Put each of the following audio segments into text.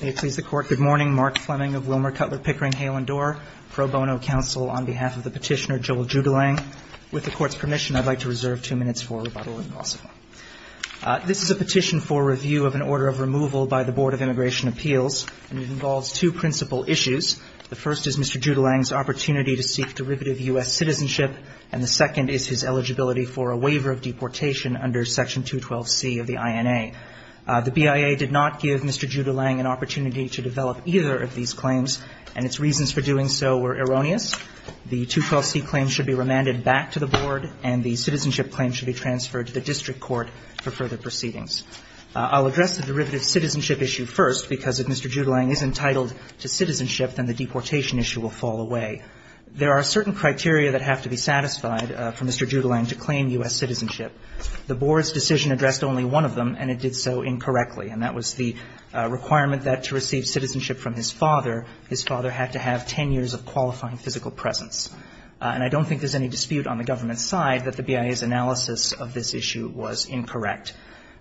Good morning. Mark Fleming of Wilmer Cutler Pickering Hale & Dorr, Pro Bono Counsel on behalf of the petitioner, Joel Judulang. With the Court's permission, I'd like to reserve two minutes for rebuttal if possible. This is a petition for review of an order of removal by the Board of Immigration Appeals. It involves two principal issues. The first is Mr. Judulang's opportunity to seek derivative U.S. citizenship, and the second is his eligibility for a waiver of deportation under Section 212C of the INA. The BIA did not give Mr. Judulang an opportunity to develop either of these claims, and its reasons for doing so were erroneous. The 212C claim should be remanded back to the Board, and the citizenship claim should be transferred to the district court for further proceedings. I'll address the derivative citizenship issue first, because if Mr. Judulang is entitled to citizenship, then the deportation issue will fall away. There are certain criteria that have to be satisfied for Mr. Judulang to claim U.S. citizenship. The Board's decision addressed only one of them, and it did so incorrectly, and that was the requirement that to receive citizenship from his father, his father had to have 10 years of qualifying physical presence. And I don't think there's any dispute on the government's side that the BIA's analysis of this issue was incorrect.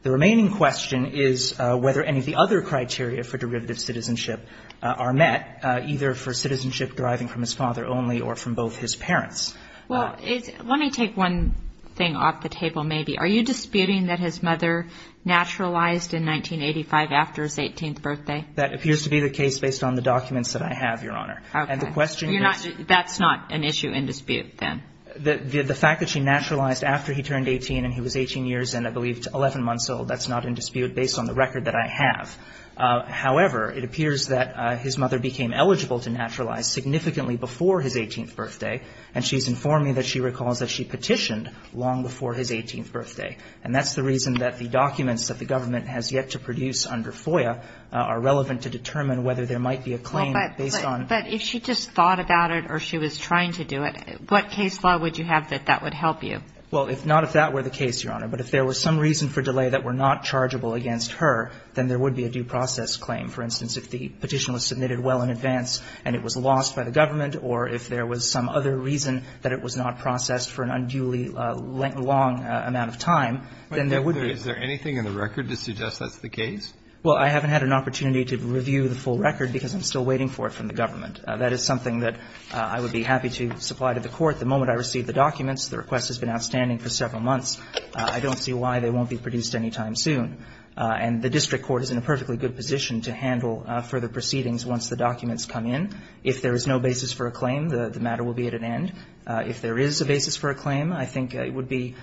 The remaining question is whether any of the other criteria for derivative citizenship are met, either for citizenship deriving from his father only or from both his parents. Well, let me take one thing off the table, maybe. Are you disputing that his mother naturalized in 1985 after his 18th birthday? That appears to be the case based on the documents that I have, Your Honor. Okay. And the question is — You're not — that's not an issue in dispute, then? The fact that she naturalized after he turned 18 and he was 18 years and I believe 11 months old, that's not in dispute based on the record that I have. However, it appears that his mother became eligible to naturalize significantly before his 18th birthday, and she's informing that she recalls that she petitioned long before his 18th birthday. And that's the reason that the documents that the government has yet to produce under FOIA are relevant to determine whether there might be a claim based on — Well, but if she just thought about it or she was trying to do it, what case law would you have that that would help you? Well, not if that were the case, Your Honor, but if there were some reason for delay that were not chargeable against her, then there would be a due process claim. For instance, if the petition was submitted well in advance and it was lost by the government, or if there was some other reason that it was not processed for an unduly long amount of time, then there would be a — But is there anything in the record to suggest that's the case? Well, I haven't had an opportunity to review the full record because I'm still waiting for it from the government. That is something that I would be happy to supply to the Court. The moment I receive the documents, the request has been outstanding for several months. I don't see why they won't be produced any time soon. And the district court is in a perfectly good position to handle further proceedings once the documents come in. If there is no basis for a claim, the matter will be at an end. If there is a basis for a claim, I think it would be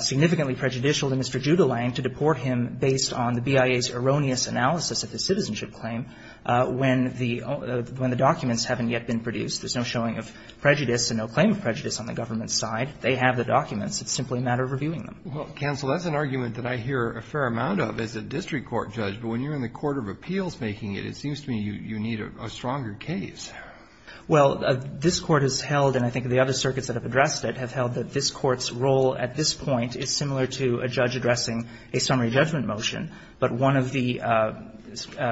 significantly prejudicial to Mr. Judelang to deport him based on the BIA's erroneous analysis of the citizenship claim when the — when the documents haven't yet been produced. There's no showing of prejudice and no claim of prejudice on the government's side. They have the documents. It's simply a matter of reviewing them. Well, counsel, that's an argument that I hear a fair amount of as a district court judge. But when you're in the court of appeals making it, it seems to me you need a stronger case. Well, this Court has held, and I think the other circuits that have addressed it, have held that this Court's role at this point is similar to a judge addressing a summary judgment motion. But one of the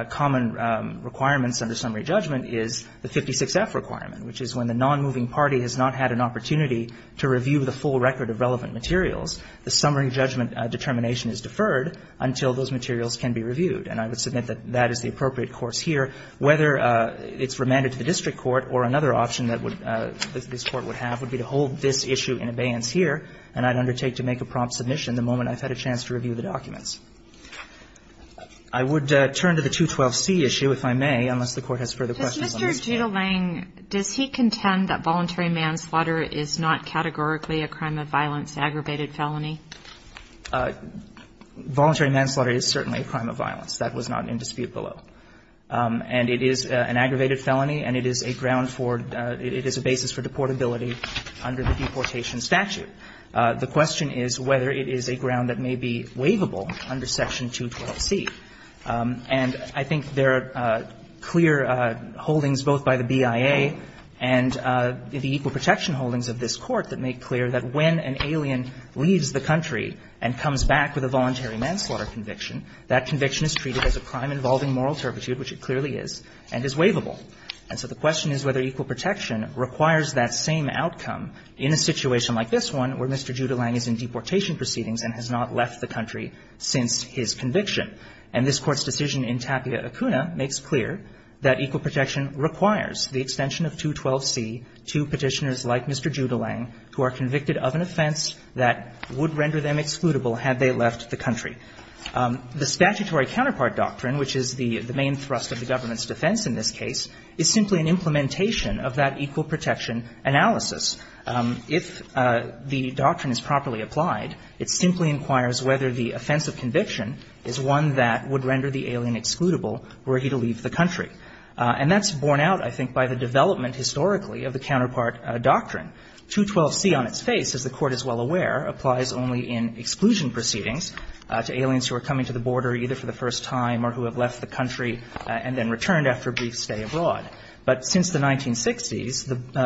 common requirements under summary judgment is the 56F requirement, which is when the nonmoving party has not had an opportunity to review the full summary judgment determination is deferred until those materials can be reviewed. And I would submit that that is the appropriate course here. Whether it's remanded to the district court or another option that would — this Court would have would be to hold this issue in abeyance here, and I'd undertake to make a prompt submission the moment I've had a chance to review the documents. I would turn to the 212C issue, if I may, unless the Court has further questions on this case. Does Mr. Judelang — does he contend that voluntary manslaughter is not categorically a crime of violence to aggravated felony? Voluntary manslaughter is certainly a crime of violence. That was not in dispute below. And it is an aggravated felony, and it is a ground for — it is a basis for deportability under the deportation statute. The question is whether it is a ground that may be waivable under Section 212C. And I think there are clear holdings both by the BIA and the equal protection holdings of this Court that make clear that when an alien leaves the country, and comes back with a voluntary manslaughter conviction, that conviction is treated as a crime involving moral turpitude, which it clearly is, and is waivable. And so the question is whether equal protection requires that same outcome in a situation like this one, where Mr. Judelang is in deportation proceedings and has not left the country since his conviction. And this Court's decision in Tapia Acuna makes clear that equal protection requires the extension of 212C to Petitioners like Mr. Judelang who are convicted of an offense that would render them excludable had they left the country. The statutory counterpart doctrine, which is the main thrust of the government's defense in this case, is simply an implementation of that equal protection analysis. If the doctrine is properly applied, it simply inquires whether the offense of conviction is one that would render the alien excludable were he to leave the country. And that's borne out, I think, by the development historically of the counterpart doctrine. 212C on its face, as the Court is well aware, applies only in exclusion proceedings to aliens who are coming to the border either for the first time or who have left the country and then returned after a brief stay abroad. But since the 1960s,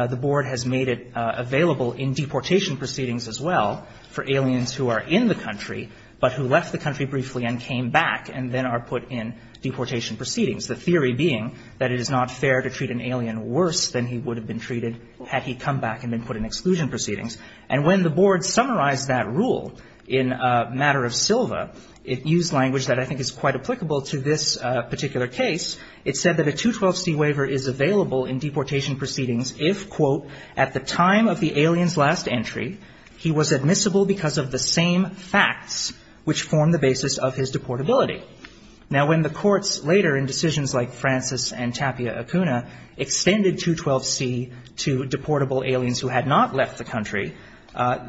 the Board has made it available in deportation proceedings as well for aliens who are in the country but who left the country briefly and came back and then are put in deportation proceedings, the theory being that it is not fair to treat an alien worse than he would have been treated had he come back and been put in exclusion proceedings. And when the Board summarized that rule in a matter of Silva, it used language that I think is quite applicable to this particular case. It said that a 212C waiver is available in deportation proceedings if, quote, at the time of the alien's last entry, he was admissible because of the same facts which form the basis of his deportability. Now, when the courts later in decisions like Francis and Tapia Acuna extended 212C to deportable aliens who had not left the country,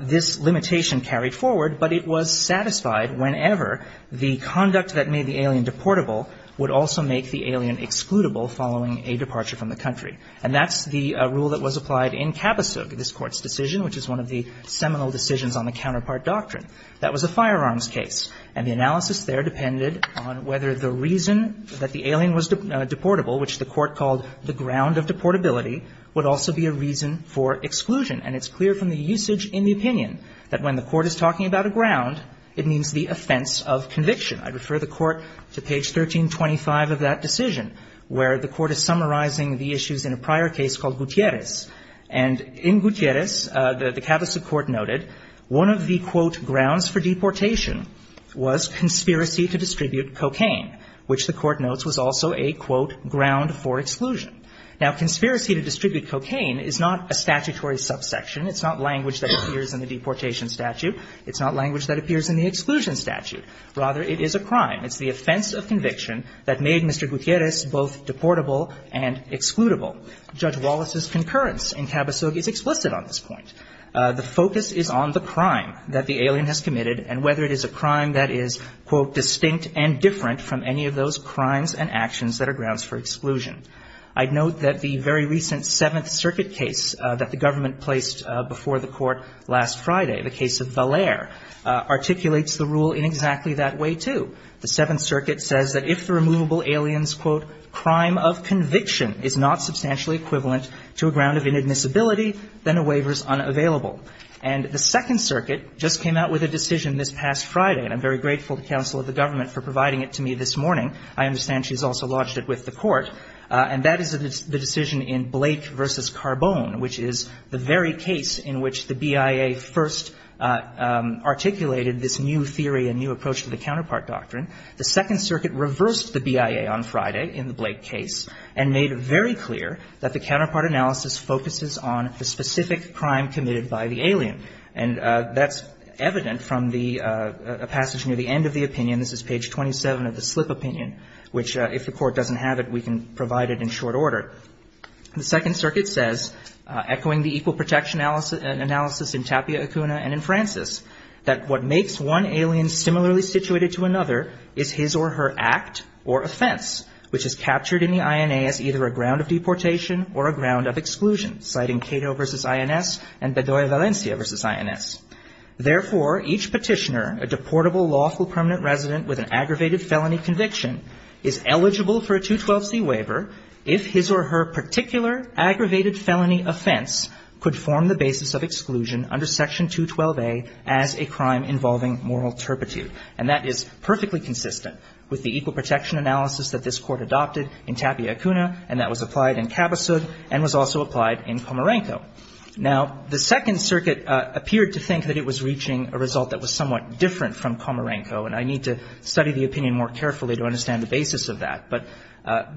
this limitation carried forward, but it was satisfied whenever the conduct that made the alien deportable would also make the alien excludable following a departure from the country. And that's the rule that was applied in Kapusuk, this Court's decision, which is one of the seminal decisions on the counterpart doctrine. That was a firearms case, and the analysis there depended on whether the reason that the alien was deportable, which the Court called the ground of deportability, would also be a reason for exclusion. And it's clear from the usage in the opinion that when the Court is talking about a ground, it means the offense of conviction. I refer the Court to page 1325 of that decision, where the Court is summarizing the issues in a prior case called Gutierrez. And in Gutierrez, the Kapusuk Court noted one of the, quote, grounds for deportation was conspiracy to distribute cocaine, which the Court notes was also a, quote, ground for exclusion. Now, conspiracy to distribute cocaine is not a statutory subsection. It's not language that appears in the deportation statute. It's not language that appears in the exclusion statute. Rather, it is a crime. It's the offense of conviction that made Mr. Gutierrez both deportable and excludable. Judge Wallace's concurrence in Kapusuk is explicit on this point. The focus is on the crime that the alien has committed and whether it is a crime that is, quote, distinct and different from any of those crimes and actions that are grounds for exclusion. I note that the very recent Seventh Circuit case that the government placed before the Court last Friday, the case of Valere, articulates the rule in exactly that way, The Seventh Circuit says that if the removable alien's, quote, crime of conviction is not substantially equivalent to a ground of inadmissibility, then a waiver is unavailable. And the Second Circuit just came out with a decision this past Friday, and I'm very grateful to the counsel of the government for providing it to me this morning. I understand she's also lodged it with the Court, and that is the decision in Blake v. Carbone, which is the very case in which the BIA first articulated this new theory and new approach to the counterpart doctrine. The Second Circuit reversed the BIA on Friday, in the Blake case, and made very clear that the counterpart analysis focuses on the specific crime committed by the alien. And that's evident from the passage near the end of the opinion. This is page 27 of the slip opinion, which, if the Court doesn't have it, we can provide it in short order. The Second Circuit says, echoing the equal protection analysis in Tapia, Acuna, and in Francis, that what makes one alien similarly situated to another is his or her act or offense, which is captured in the INA as either a ground of deportation or a ground of exclusion, citing Cato v. INS and Bedoya Valencia v. INS. Therefore, each petitioner, a deportable lawful permanent resident with an aggravated felony conviction, is eligible for a 212c waiver if his or her particular aggravated felony offense could form the basis of exclusion under Section 212a as a crime involving moral turpitude. And that is perfectly consistent with the equal protection analysis that this Court adopted in Tapia, Acuna, and that was applied in Cabasug and was also applied in Comarenco. Now, the Second Circuit appeared to think that it was reaching a result that was somewhat different from Comarenco, and I need to study the opinion more carefully to understand the basis of that. But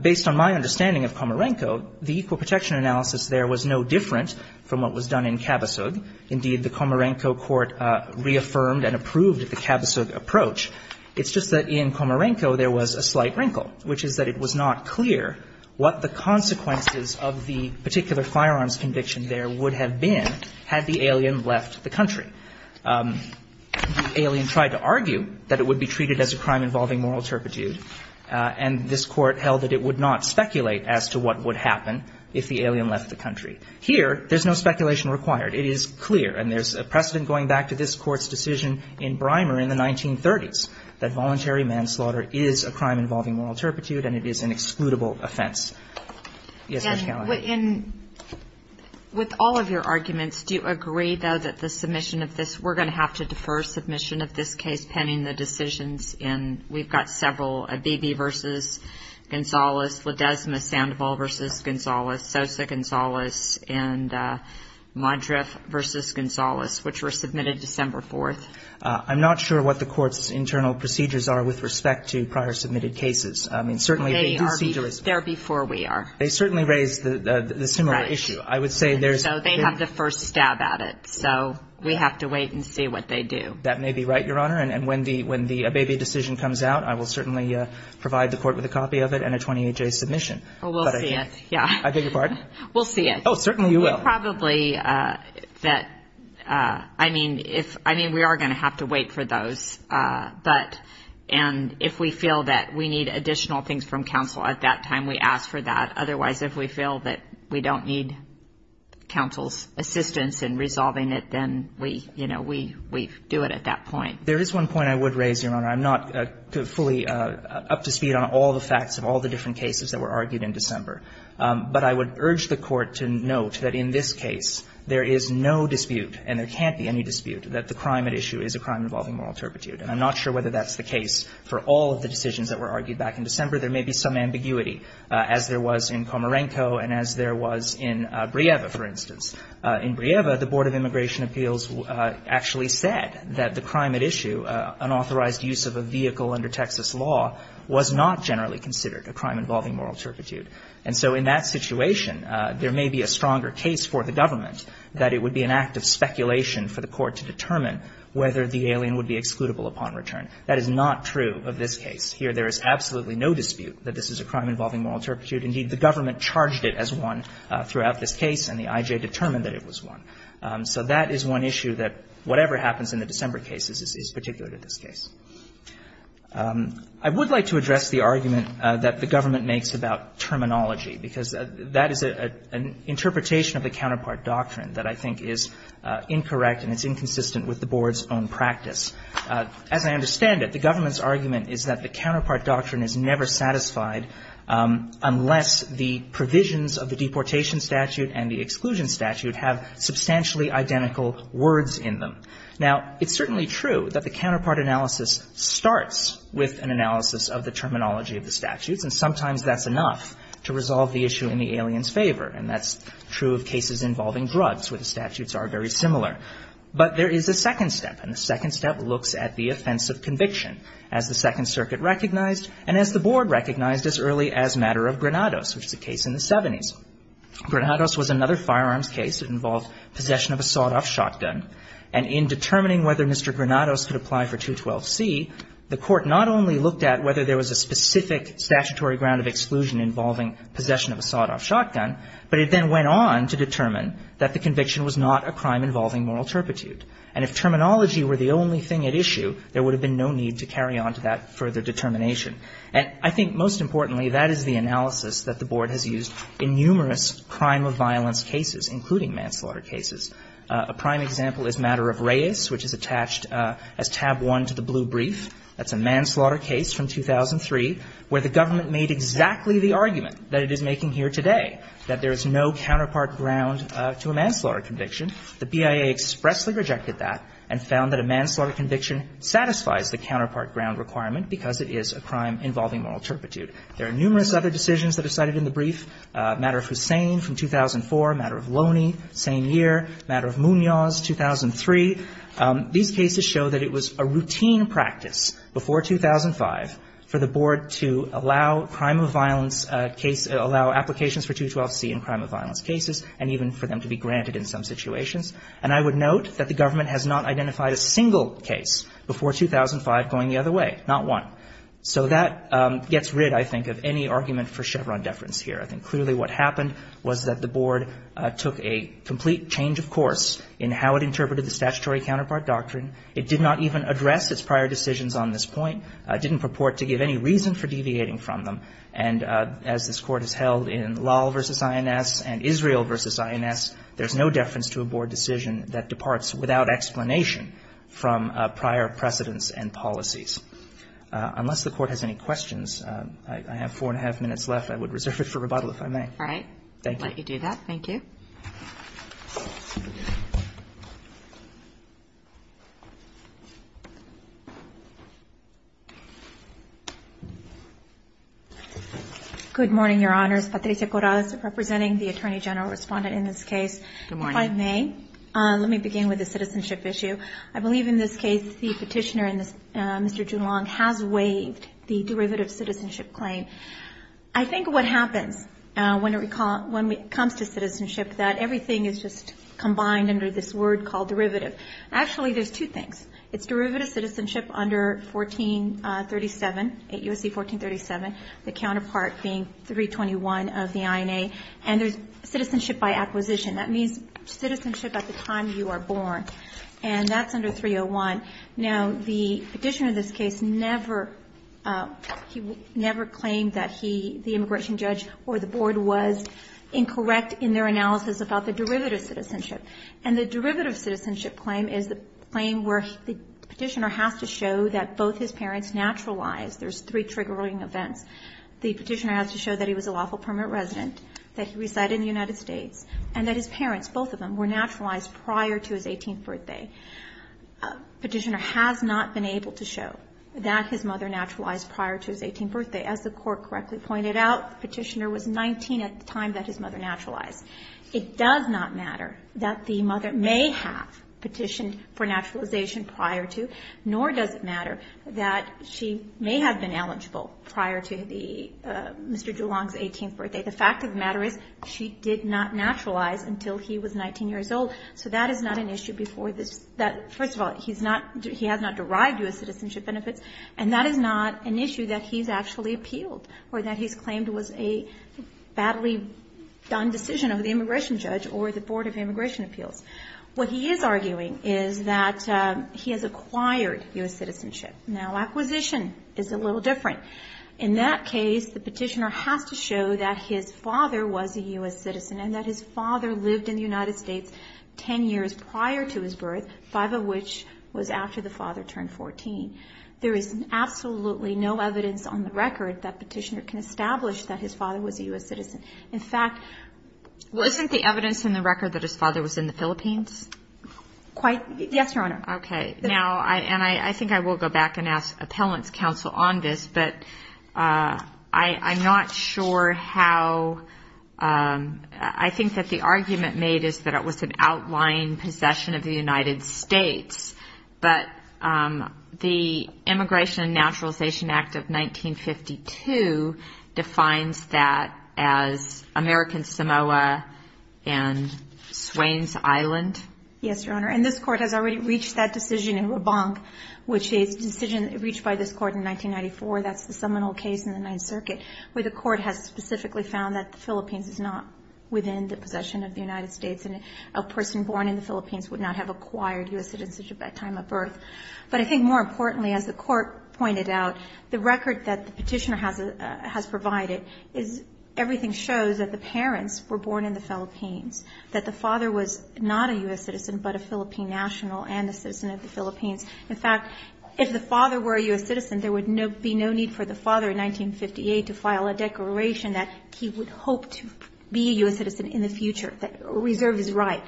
based on my understanding of Comarenco, the equal protection analysis there was no different from what was done in Cabasug. Indeed, the Comarenco court reaffirmed and approved the Cabasug approach. It's just that in Comarenco, there was a slight wrinkle, which is that it was not clear what the consequences of the particular firearms conviction there would have been had the alien left the country. The alien tried to argue that it would be treated as a crime involving moral turpitude, and this Court held that it would not speculate as to what would happen if the alien left the country. Here, there's no speculation required. It is clear, and there's a precedent going back to this Court's decision in Brimer in the 1930s that voluntary manslaughter is a crime involving moral turpitude and it is an excludable offense. Yes, Judge Callahan. And with all of your arguments, do you agree, though, that the submission of this we're going to have to defer submission of this case pending the decisions in, we've got several, Abebe v. Gonzales, Ledesma-Sandoval v. Gonzales, Sosa-Gonzales, and Modriff v. Gonzales, which were submitted December 4th? I'm not sure what the Court's internal procedures are with respect to prior submitted cases. I mean, certainly they do seem to respond. They are there before we are. They certainly raise the similar issue. Right. I would say there's... So they have the first stab at it, so we have to wait and see what they do. That may be right, Your Honor, and when the Abebe decision comes out, I will certainly provide the Court with a copy of it and a 28-J submission. Oh, we'll see it, yeah. I beg your pardon? We'll see it. Oh, certainly you will. Probably that, I mean, if, I mean, we are going to have to wait for those, but, and if we feel that we need additional things from counsel at that time, we ask for that. Otherwise, if we feel that we don't need counsel's assistance in resolving it, then we, you know, we do it at that point. There is one point I would raise, Your Honor. I'm not fully up to speed on all the facts of all the different cases that were argued back in December. There may be some ambiguity, as there was in Komarenko and as there was in Brieva, for instance. In Brieva, the Board of Immigration Appeals actually said that the crime at issue, unauthorized use of a vehicle under Texas law, was not generally considered a crime involving moral turpitude. There may be some ambiguity. In Brieva, there was a stronger case for the government that it would be an act of speculation for the court to determine whether the alien would be excludable upon return. That is not true of this case. Here there is absolutely no dispute that this is a crime involving moral turpitude. Indeed, the government charged it as one throughout this case, and the I.J. determined that it was one. So that is one issue that whatever happens in the December cases is particular to this case. I would like to address the argument that the government makes about terminology, because that is an interpretation of the counterpart doctrine that I think is incorrect and it's inconsistent with the Board's own practice. As I understand it, the government's argument is that the counterpart doctrine is never satisfied unless the provisions of the deportation statute and the exclusion statute have substantially identical words in them. Now, it's certainly true that the counterpart analysis starts with an analysis of the terminology of the statutes, and sometimes that's enough to resolve the issue in the alien's favor. And that's true of cases involving drugs, where the statutes are very similar. But there is a second step, and the second step looks at the offense of conviction as the Second Circuit recognized and as the Board recognized as early as Matter of Granados, which is a case in the 70s. Granados was another firearms case that involved possession of a sawed-off shotgun and in determining whether Mr. Granados could apply for 212C, the Court not only looked at whether there was a specific statutory ground of exclusion involving possession of a sawed-off shotgun, but it then went on to determine that the conviction was not a crime involving moral turpitude. And if terminology were the only thing at issue, there would have been no need to carry on to that further determination. And I think most importantly, that is the analysis that the Board has used in numerous crime of violence cases, including manslaughter cases. A prime example is Matter of Reyes, which is attached as tab 1 to the blue brief. That's a manslaughter case from 2003 where the government made exactly the argument that it is making here today, that there is no counterpart ground to a manslaughter conviction. The BIA expressly rejected that and found that a manslaughter conviction satisfies the counterpart ground requirement because it is a crime involving moral turpitude. There are numerous other decisions that are cited in the brief. Matter of Hussain from 2004, Matter of Loney, same year. Matter of Munoz, 2003. These cases show that it was a routine practice before 2005 for the Board to allow crime of violence case, allow applications for 212C in crime of violence cases, and even for them to be granted in some situations. And I would note that the government has not identified a single case before 2005 going the other way, not one. So that gets rid, I think, of any argument for Chevron deference here. I think clearly what happened was that the Board took a complete change of course in how it interpreted the statutory counterpart doctrine. It did not even address its prior decisions on this point. It didn't purport to give any reason for deviating from them. And as this Court has held in Law v. INS and Israel v. INS, there is no deference to a Board decision that departs without explanation from prior precedents and policies. Unless the Court has any questions, I have four and a half minutes left. I would reserve it for rebuttal if I may. All right. Thank you. I'll let you do that. Thank you. Good morning, Your Honors. Patricia Corrales representing the Attorney General respondent in this case. Good morning. If I may, let me begin with the citizenship issue. I believe in this case the Petitioner, Mr. Joulon, has waived the derivative citizenship claim. I think what happens when it comes to citizenship that everything is just combined under this word called derivative. Actually, there's two things. It's derivative citizenship under 1437, 8 U.S.C. 1437, the counterpart being 321 of the INA. And there's citizenship by acquisition. That means citizenship at the time you are born. And that's under 301. Now, the Petitioner in this case never claimed that the immigration judge or the board was incorrect in their analysis about the derivative citizenship. And the derivative citizenship claim is the claim where the Petitioner has to show that both his parents naturalized. There's three triggering events. The Petitioner has to show that he was a lawful permanent resident, that he resided in the United States, and that his parents, both of them, were naturalized prior to his 18th birthday. The Petitioner has not been able to show that his mother naturalized prior to his 18th birthday. As the Court correctly pointed out, the Petitioner was 19 at the time that his mother naturalized. It does not matter that the mother may have petitioned for naturalization prior to, nor does it matter that she may have been eligible prior to the Mr. Joulon's 18th birthday. The fact of the matter is she did not naturalize until he was 19 years old. So that is not an issue before this. First of all, he has not derived U.S. citizenship benefits, and that is not an issue that he's actually appealed or that he's claimed was a badly done decision of the immigration judge or the Board of Immigration Appeals. What he is arguing is that he has acquired U.S. citizenship. Now, acquisition is a little different. In that case, the Petitioner has to show that his father was a U.S. citizen and that his father lived in the United States 10 years prior to his birth, five of which was after the father turned 14. There is absolutely no evidence on the record that Petitioner can establish that his father was a U.S. citizen. In fact, wasn't the evidence in the record that his father was in the Philippines? Yes, Your Honor. Okay. Now, and I think I will go back and ask appellant's counsel on this, but I'm not sure how I think that the argument made is that it was an outlying possession of the United States, but the Immigration and Naturalization Act of 1952 defines that as American Samoa and Swains Island? Yes, Your Honor. And this Court has already reached that decision in Rabanc, which is a decision reached by this Court in 1994. That's the seminal case in the Ninth Circuit where the Court has specifically found that the Philippines is not within the possession of the United States, and a person born in the Philippines would not have acquired U.S. citizenship by time of birth. But I think more importantly, as the Court pointed out, the record that the Petitioner has provided is everything shows that the parents were born in the Philippines, that the father was not a U.S. citizen but a Philippine national and a citizen of the Philippines. In fact, if the father were a U.S. citizen, there would be no need for the father in 1958 to file a declaration that he would hope to be a U.S. citizen in the future, that reserve his right.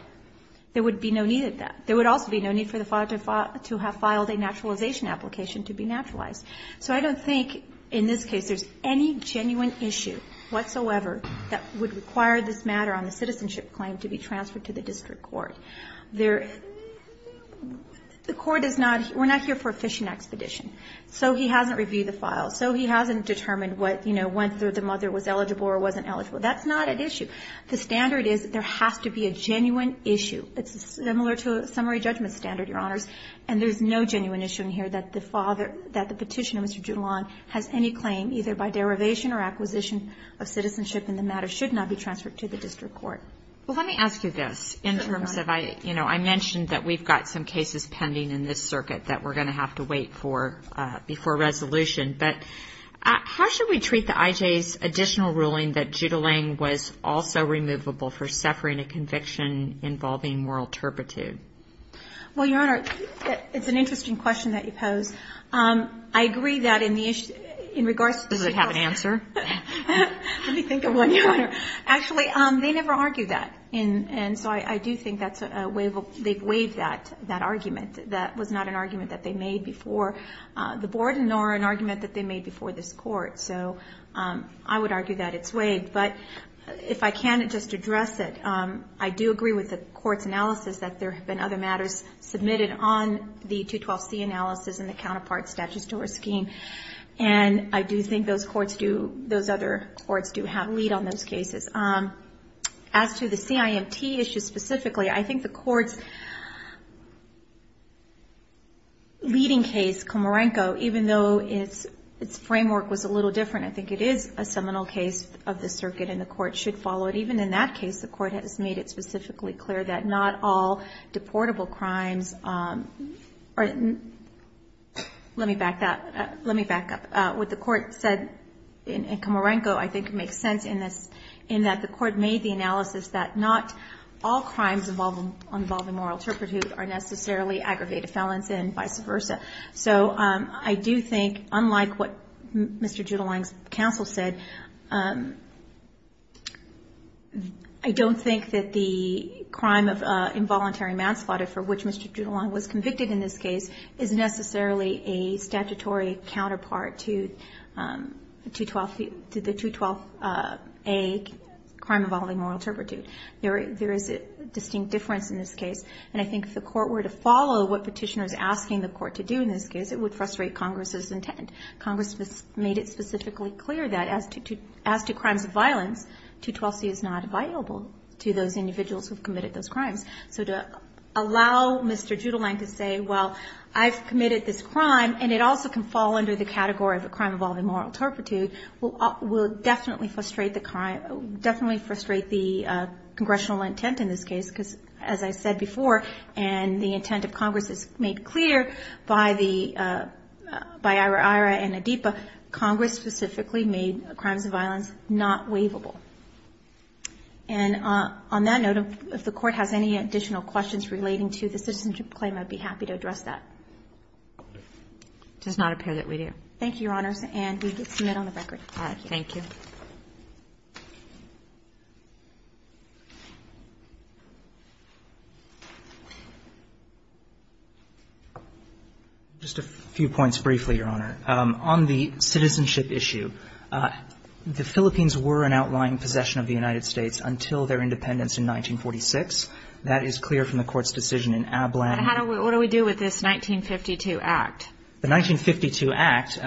There would be no need of that. There would also be no need for the father to have filed a naturalization application to be naturalized. So I don't think in this case there's any genuine issue whatsoever that would require this matter on the citizenship claim to be transferred to the district court. There – the Court is not – we're not here for a fishing expedition. So he hasn't reviewed the files. So he hasn't determined what, you know, whether the mother was eligible or wasn't eligible. That's not an issue. The standard is there has to be a genuine issue. It's similar to a summary judgment standard, Your Honors. And there's no genuine issue in here that the father – that the Petitioner, Mr. Julian, has any claim either by derivation or acquisition of citizenship and the matter should not be transferred to the district court. Well, let me ask you this. In terms of I – you know, I mentioned that we've got some cases pending in this circuit that we're going to have to wait for before resolution. But how should we treat the IJ's additional ruling that Judah Lang was also removable for suffering a conviction involving moral turpitude? Well, Your Honor, it's an interesting question that you pose. I agree that in the issue – in regards to – Does it have an answer? Let me think of one, Your Honor. Actually, they never argue that. And so I do think that's a – they've waived that argument. That was not an argument that they made before the board nor an argument that they made before this court. So I would argue that it's waived. But if I can just address it, I do agree with the court's analysis that there have been other matters submitted on the 212C analysis and the counterpart statutory scheme. And I do think those courts do – those other courts do have a lead on those cases. As to the CIMT issue specifically, I think the court's leading case, Comorenco, even though its framework was a little different, I think it is a seminal case of the circuit and the court should follow it. Even in that case, the court has made it specifically clear that not all Let me back up. What the court said in Comorenco I think makes sense in this, in that the court made the analysis that not all crimes involving moral turpitude are necessarily aggravated felons and vice versa. So I do think, unlike what Mr. Judelang's counsel said, I don't think that the crime of involuntary manslaughter, for which Mr. Judelang was convicted in this case, is necessarily a statutory counterpart to the 212A crime involving moral turpitude. There is a distinct difference in this case. And I think if the court were to follow what Petitioner is asking the court to do in this case, it would frustrate Congress's intent. Congress made it specifically clear that as to crimes of violence, 212C is not viable to those individuals who have committed those crimes. So to allow Mr. Judelang to say, well, I've committed this crime, and it also can fall under the category of a crime involving moral turpitude, will definitely frustrate the congressional intent in this case. Because, as I said before, and the intent of Congress is made clear by Ira Ira and Adipa, Congress specifically made crimes of violence not waivable. And on that note, if the Court has any additional questions relating to the citizenship claim, I'd be happy to address that. It does not appear that we do. Thank you, Your Honors. And we submit on the record. All right. Just a few points briefly, Your Honor. On the citizenship issue, the Philippines were an outlying possession of the United States until their independence in 1946. That is clear from the Court's decision in Ablang. What do we do with this 1952 Act? The 1952 Act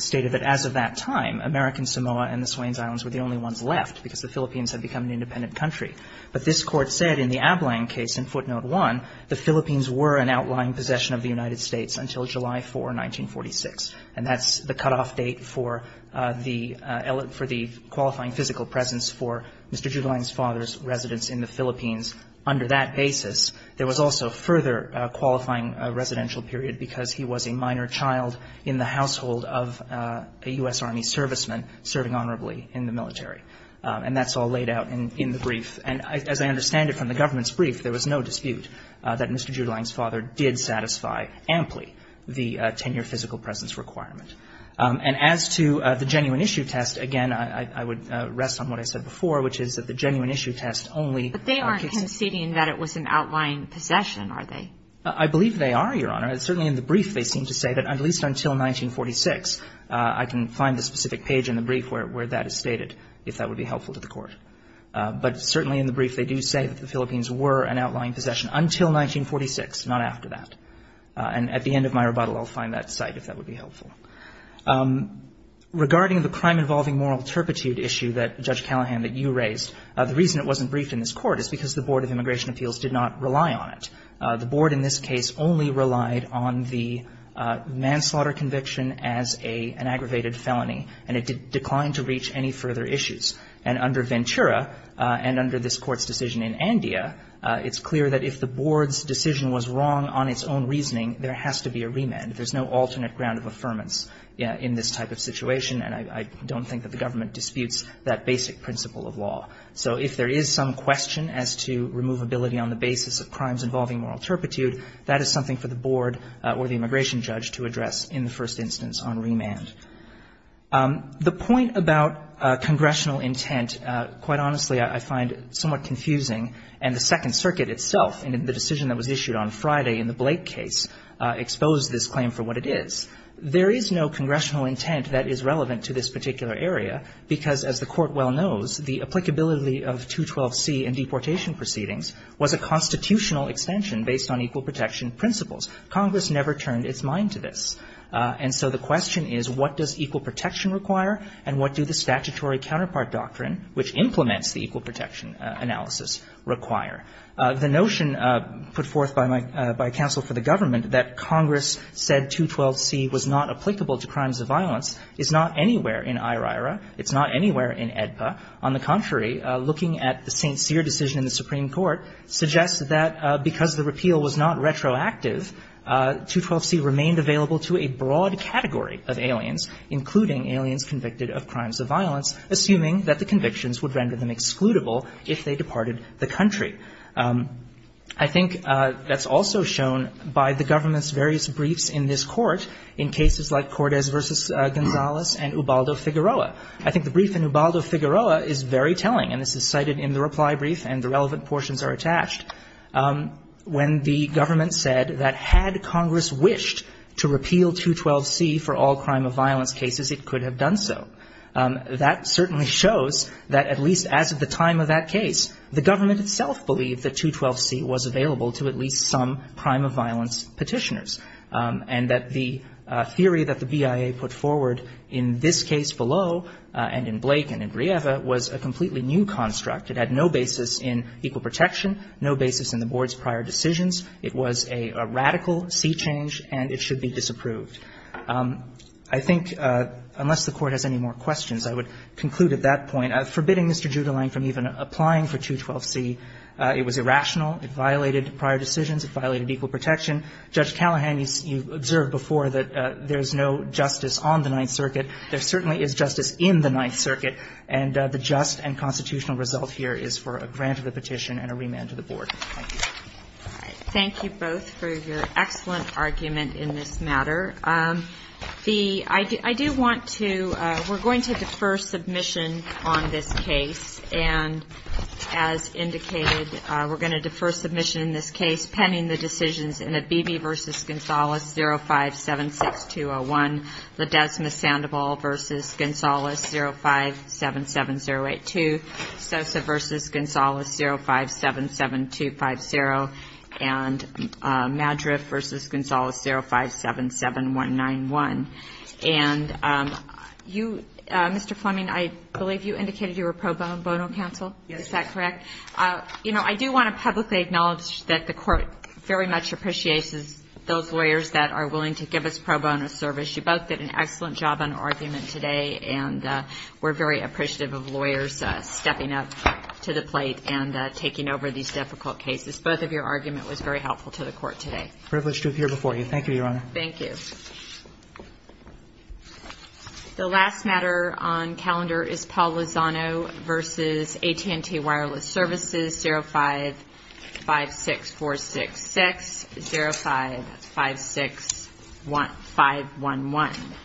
stated that as of that time, American Samoa and the Swains Islands were the only ones left because the Philippines had become an independent country. But this Court said in the Ablang case in Footnote 1, the Philippines were an outlying possession of the United States until July 4, 1946. And that's the cutoff date for the qualifying physical presence for Mr. Judelang's father's residence in the Philippines. Under that basis, there was also further qualifying residential period because he was a minor child in the household of a U.S. Army serviceman serving honorably in the military. And that's all laid out in the brief. And as I understand it from the government's brief, there was no dispute that Mr. And that's the cutoff date for the qualifying physical presence requirement. And as to the genuine issue test, again, I would rest on what I said before, which is that the genuine issue test only kicks in. But they aren't conceding that it was an outlying possession, are they? I believe they are, Your Honor. Certainly in the brief, they seem to say that at least until 1946, I can find the cite, if that would be helpful. Regarding the crime-involving moral turpitude issue that, Judge Callahan, that you raised, the reason it wasn't briefed in this Court is because the Board of Immigration Appeals did not rely on it. The Board in this case only relied on the manslaughter conviction as an aggravated felony, and it declined to reach any further issues. And under Ventura and under this Court's decision in Andea, it's clear that if the Board's decision was wrong on its own reasoning, there has to be a remand. There's no alternate ground of affirmance in this type of situation, and I don't think that the government disputes that basic principle of law. So if there is some question as to removability on the basis of crimes involving moral turpitude, that is something for the Board or the immigration judge to address in the first instance on remand. The point about congressional intent, quite honestly, I find somewhat confusing. And the Second Circuit itself, in the decision that was issued on Friday in the Blake case, exposed this claim for what it is. There is no congressional intent that is relevant to this particular area, because as the Court well knows, the applicability of 212C in deportation proceedings was a constitutional extension based on equal protection principles. Congress never turned its mind to this. And so the question is, what does equal protection require, and what do the statutory counterpart doctrine, which implements the equal protection analysis, require? The notion put forth by my — by counsel for the government that Congress said 212C was not applicable to crimes of violence is not anywhere in IRAIRA. It's not anywhere in AEDPA. On the contrary, looking at the St. Cyr decision in the Supreme Court suggests that because the repeal was not retroactive, 212C remained available to a broad category of aliens, including aliens convicted of crimes of violence, assuming that the convictions would render them excludable if they departed the country. I think that's also shown by the government's various briefs in this Court in cases like Cordes v. Gonzales and Ubaldo-Figueroa. I think the brief in Ubaldo-Figueroa is very telling, and this is cited in the reply brief, and the relevant portions are attached, when the government said that had Congress wished to repeal 212C for all crime of violence cases, it could have done so. That certainly shows that at least as of the time of that case, the government itself believed that 212C was available to at least some crime of violence petitioners and that the theory that the BIA put forward in this case below and in Blake and in Brieva was a completely new construct. It had no basis in equal protection, no basis in the Board's prior decisions. It was a radical C change, and it should be disapproved. I think unless the Court has any more questions, I would conclude at that point forbidding Mr. Judlein from even applying for 212C. It was irrational. It violated prior decisions. It violated equal protection. Judge Callahan, you observed before that there's no justice on the Ninth Circuit. There certainly is justice in the Ninth Circuit, and the just and constitutional result here is for a grant of the petition and a remand to the Board. Thank you. Thank you both for your excellent argument in this matter. I do want to we're going to defer submission on this case, and as indicated, we're going to defer submission in this case pending the decisions in the Beebe v. Gonzales 0576201, Ledesma-Sandoval v. Gonzales 0577082, Sosa v. Gonzales 0577250, and Madra v. Gonzales 0577191. And you, Mr. Fleming, I believe you indicated you were pro bono counsel. Is that correct? Yes. You know, I do want to publicly acknowledge that the Court very much appreciates those lawyers that are willing to give us pro bono service. You both did an excellent job on argument today, and we're very appreciative of lawyers stepping up to the plate and taking over these difficult cases. Both of your argument was very helpful to the Court today. Privileged to appear before you. Thank you, Your Honor. Thank you. The last matter on calendar is Paul Lozano v. AT&T Wireless Services 0556466, 0556511.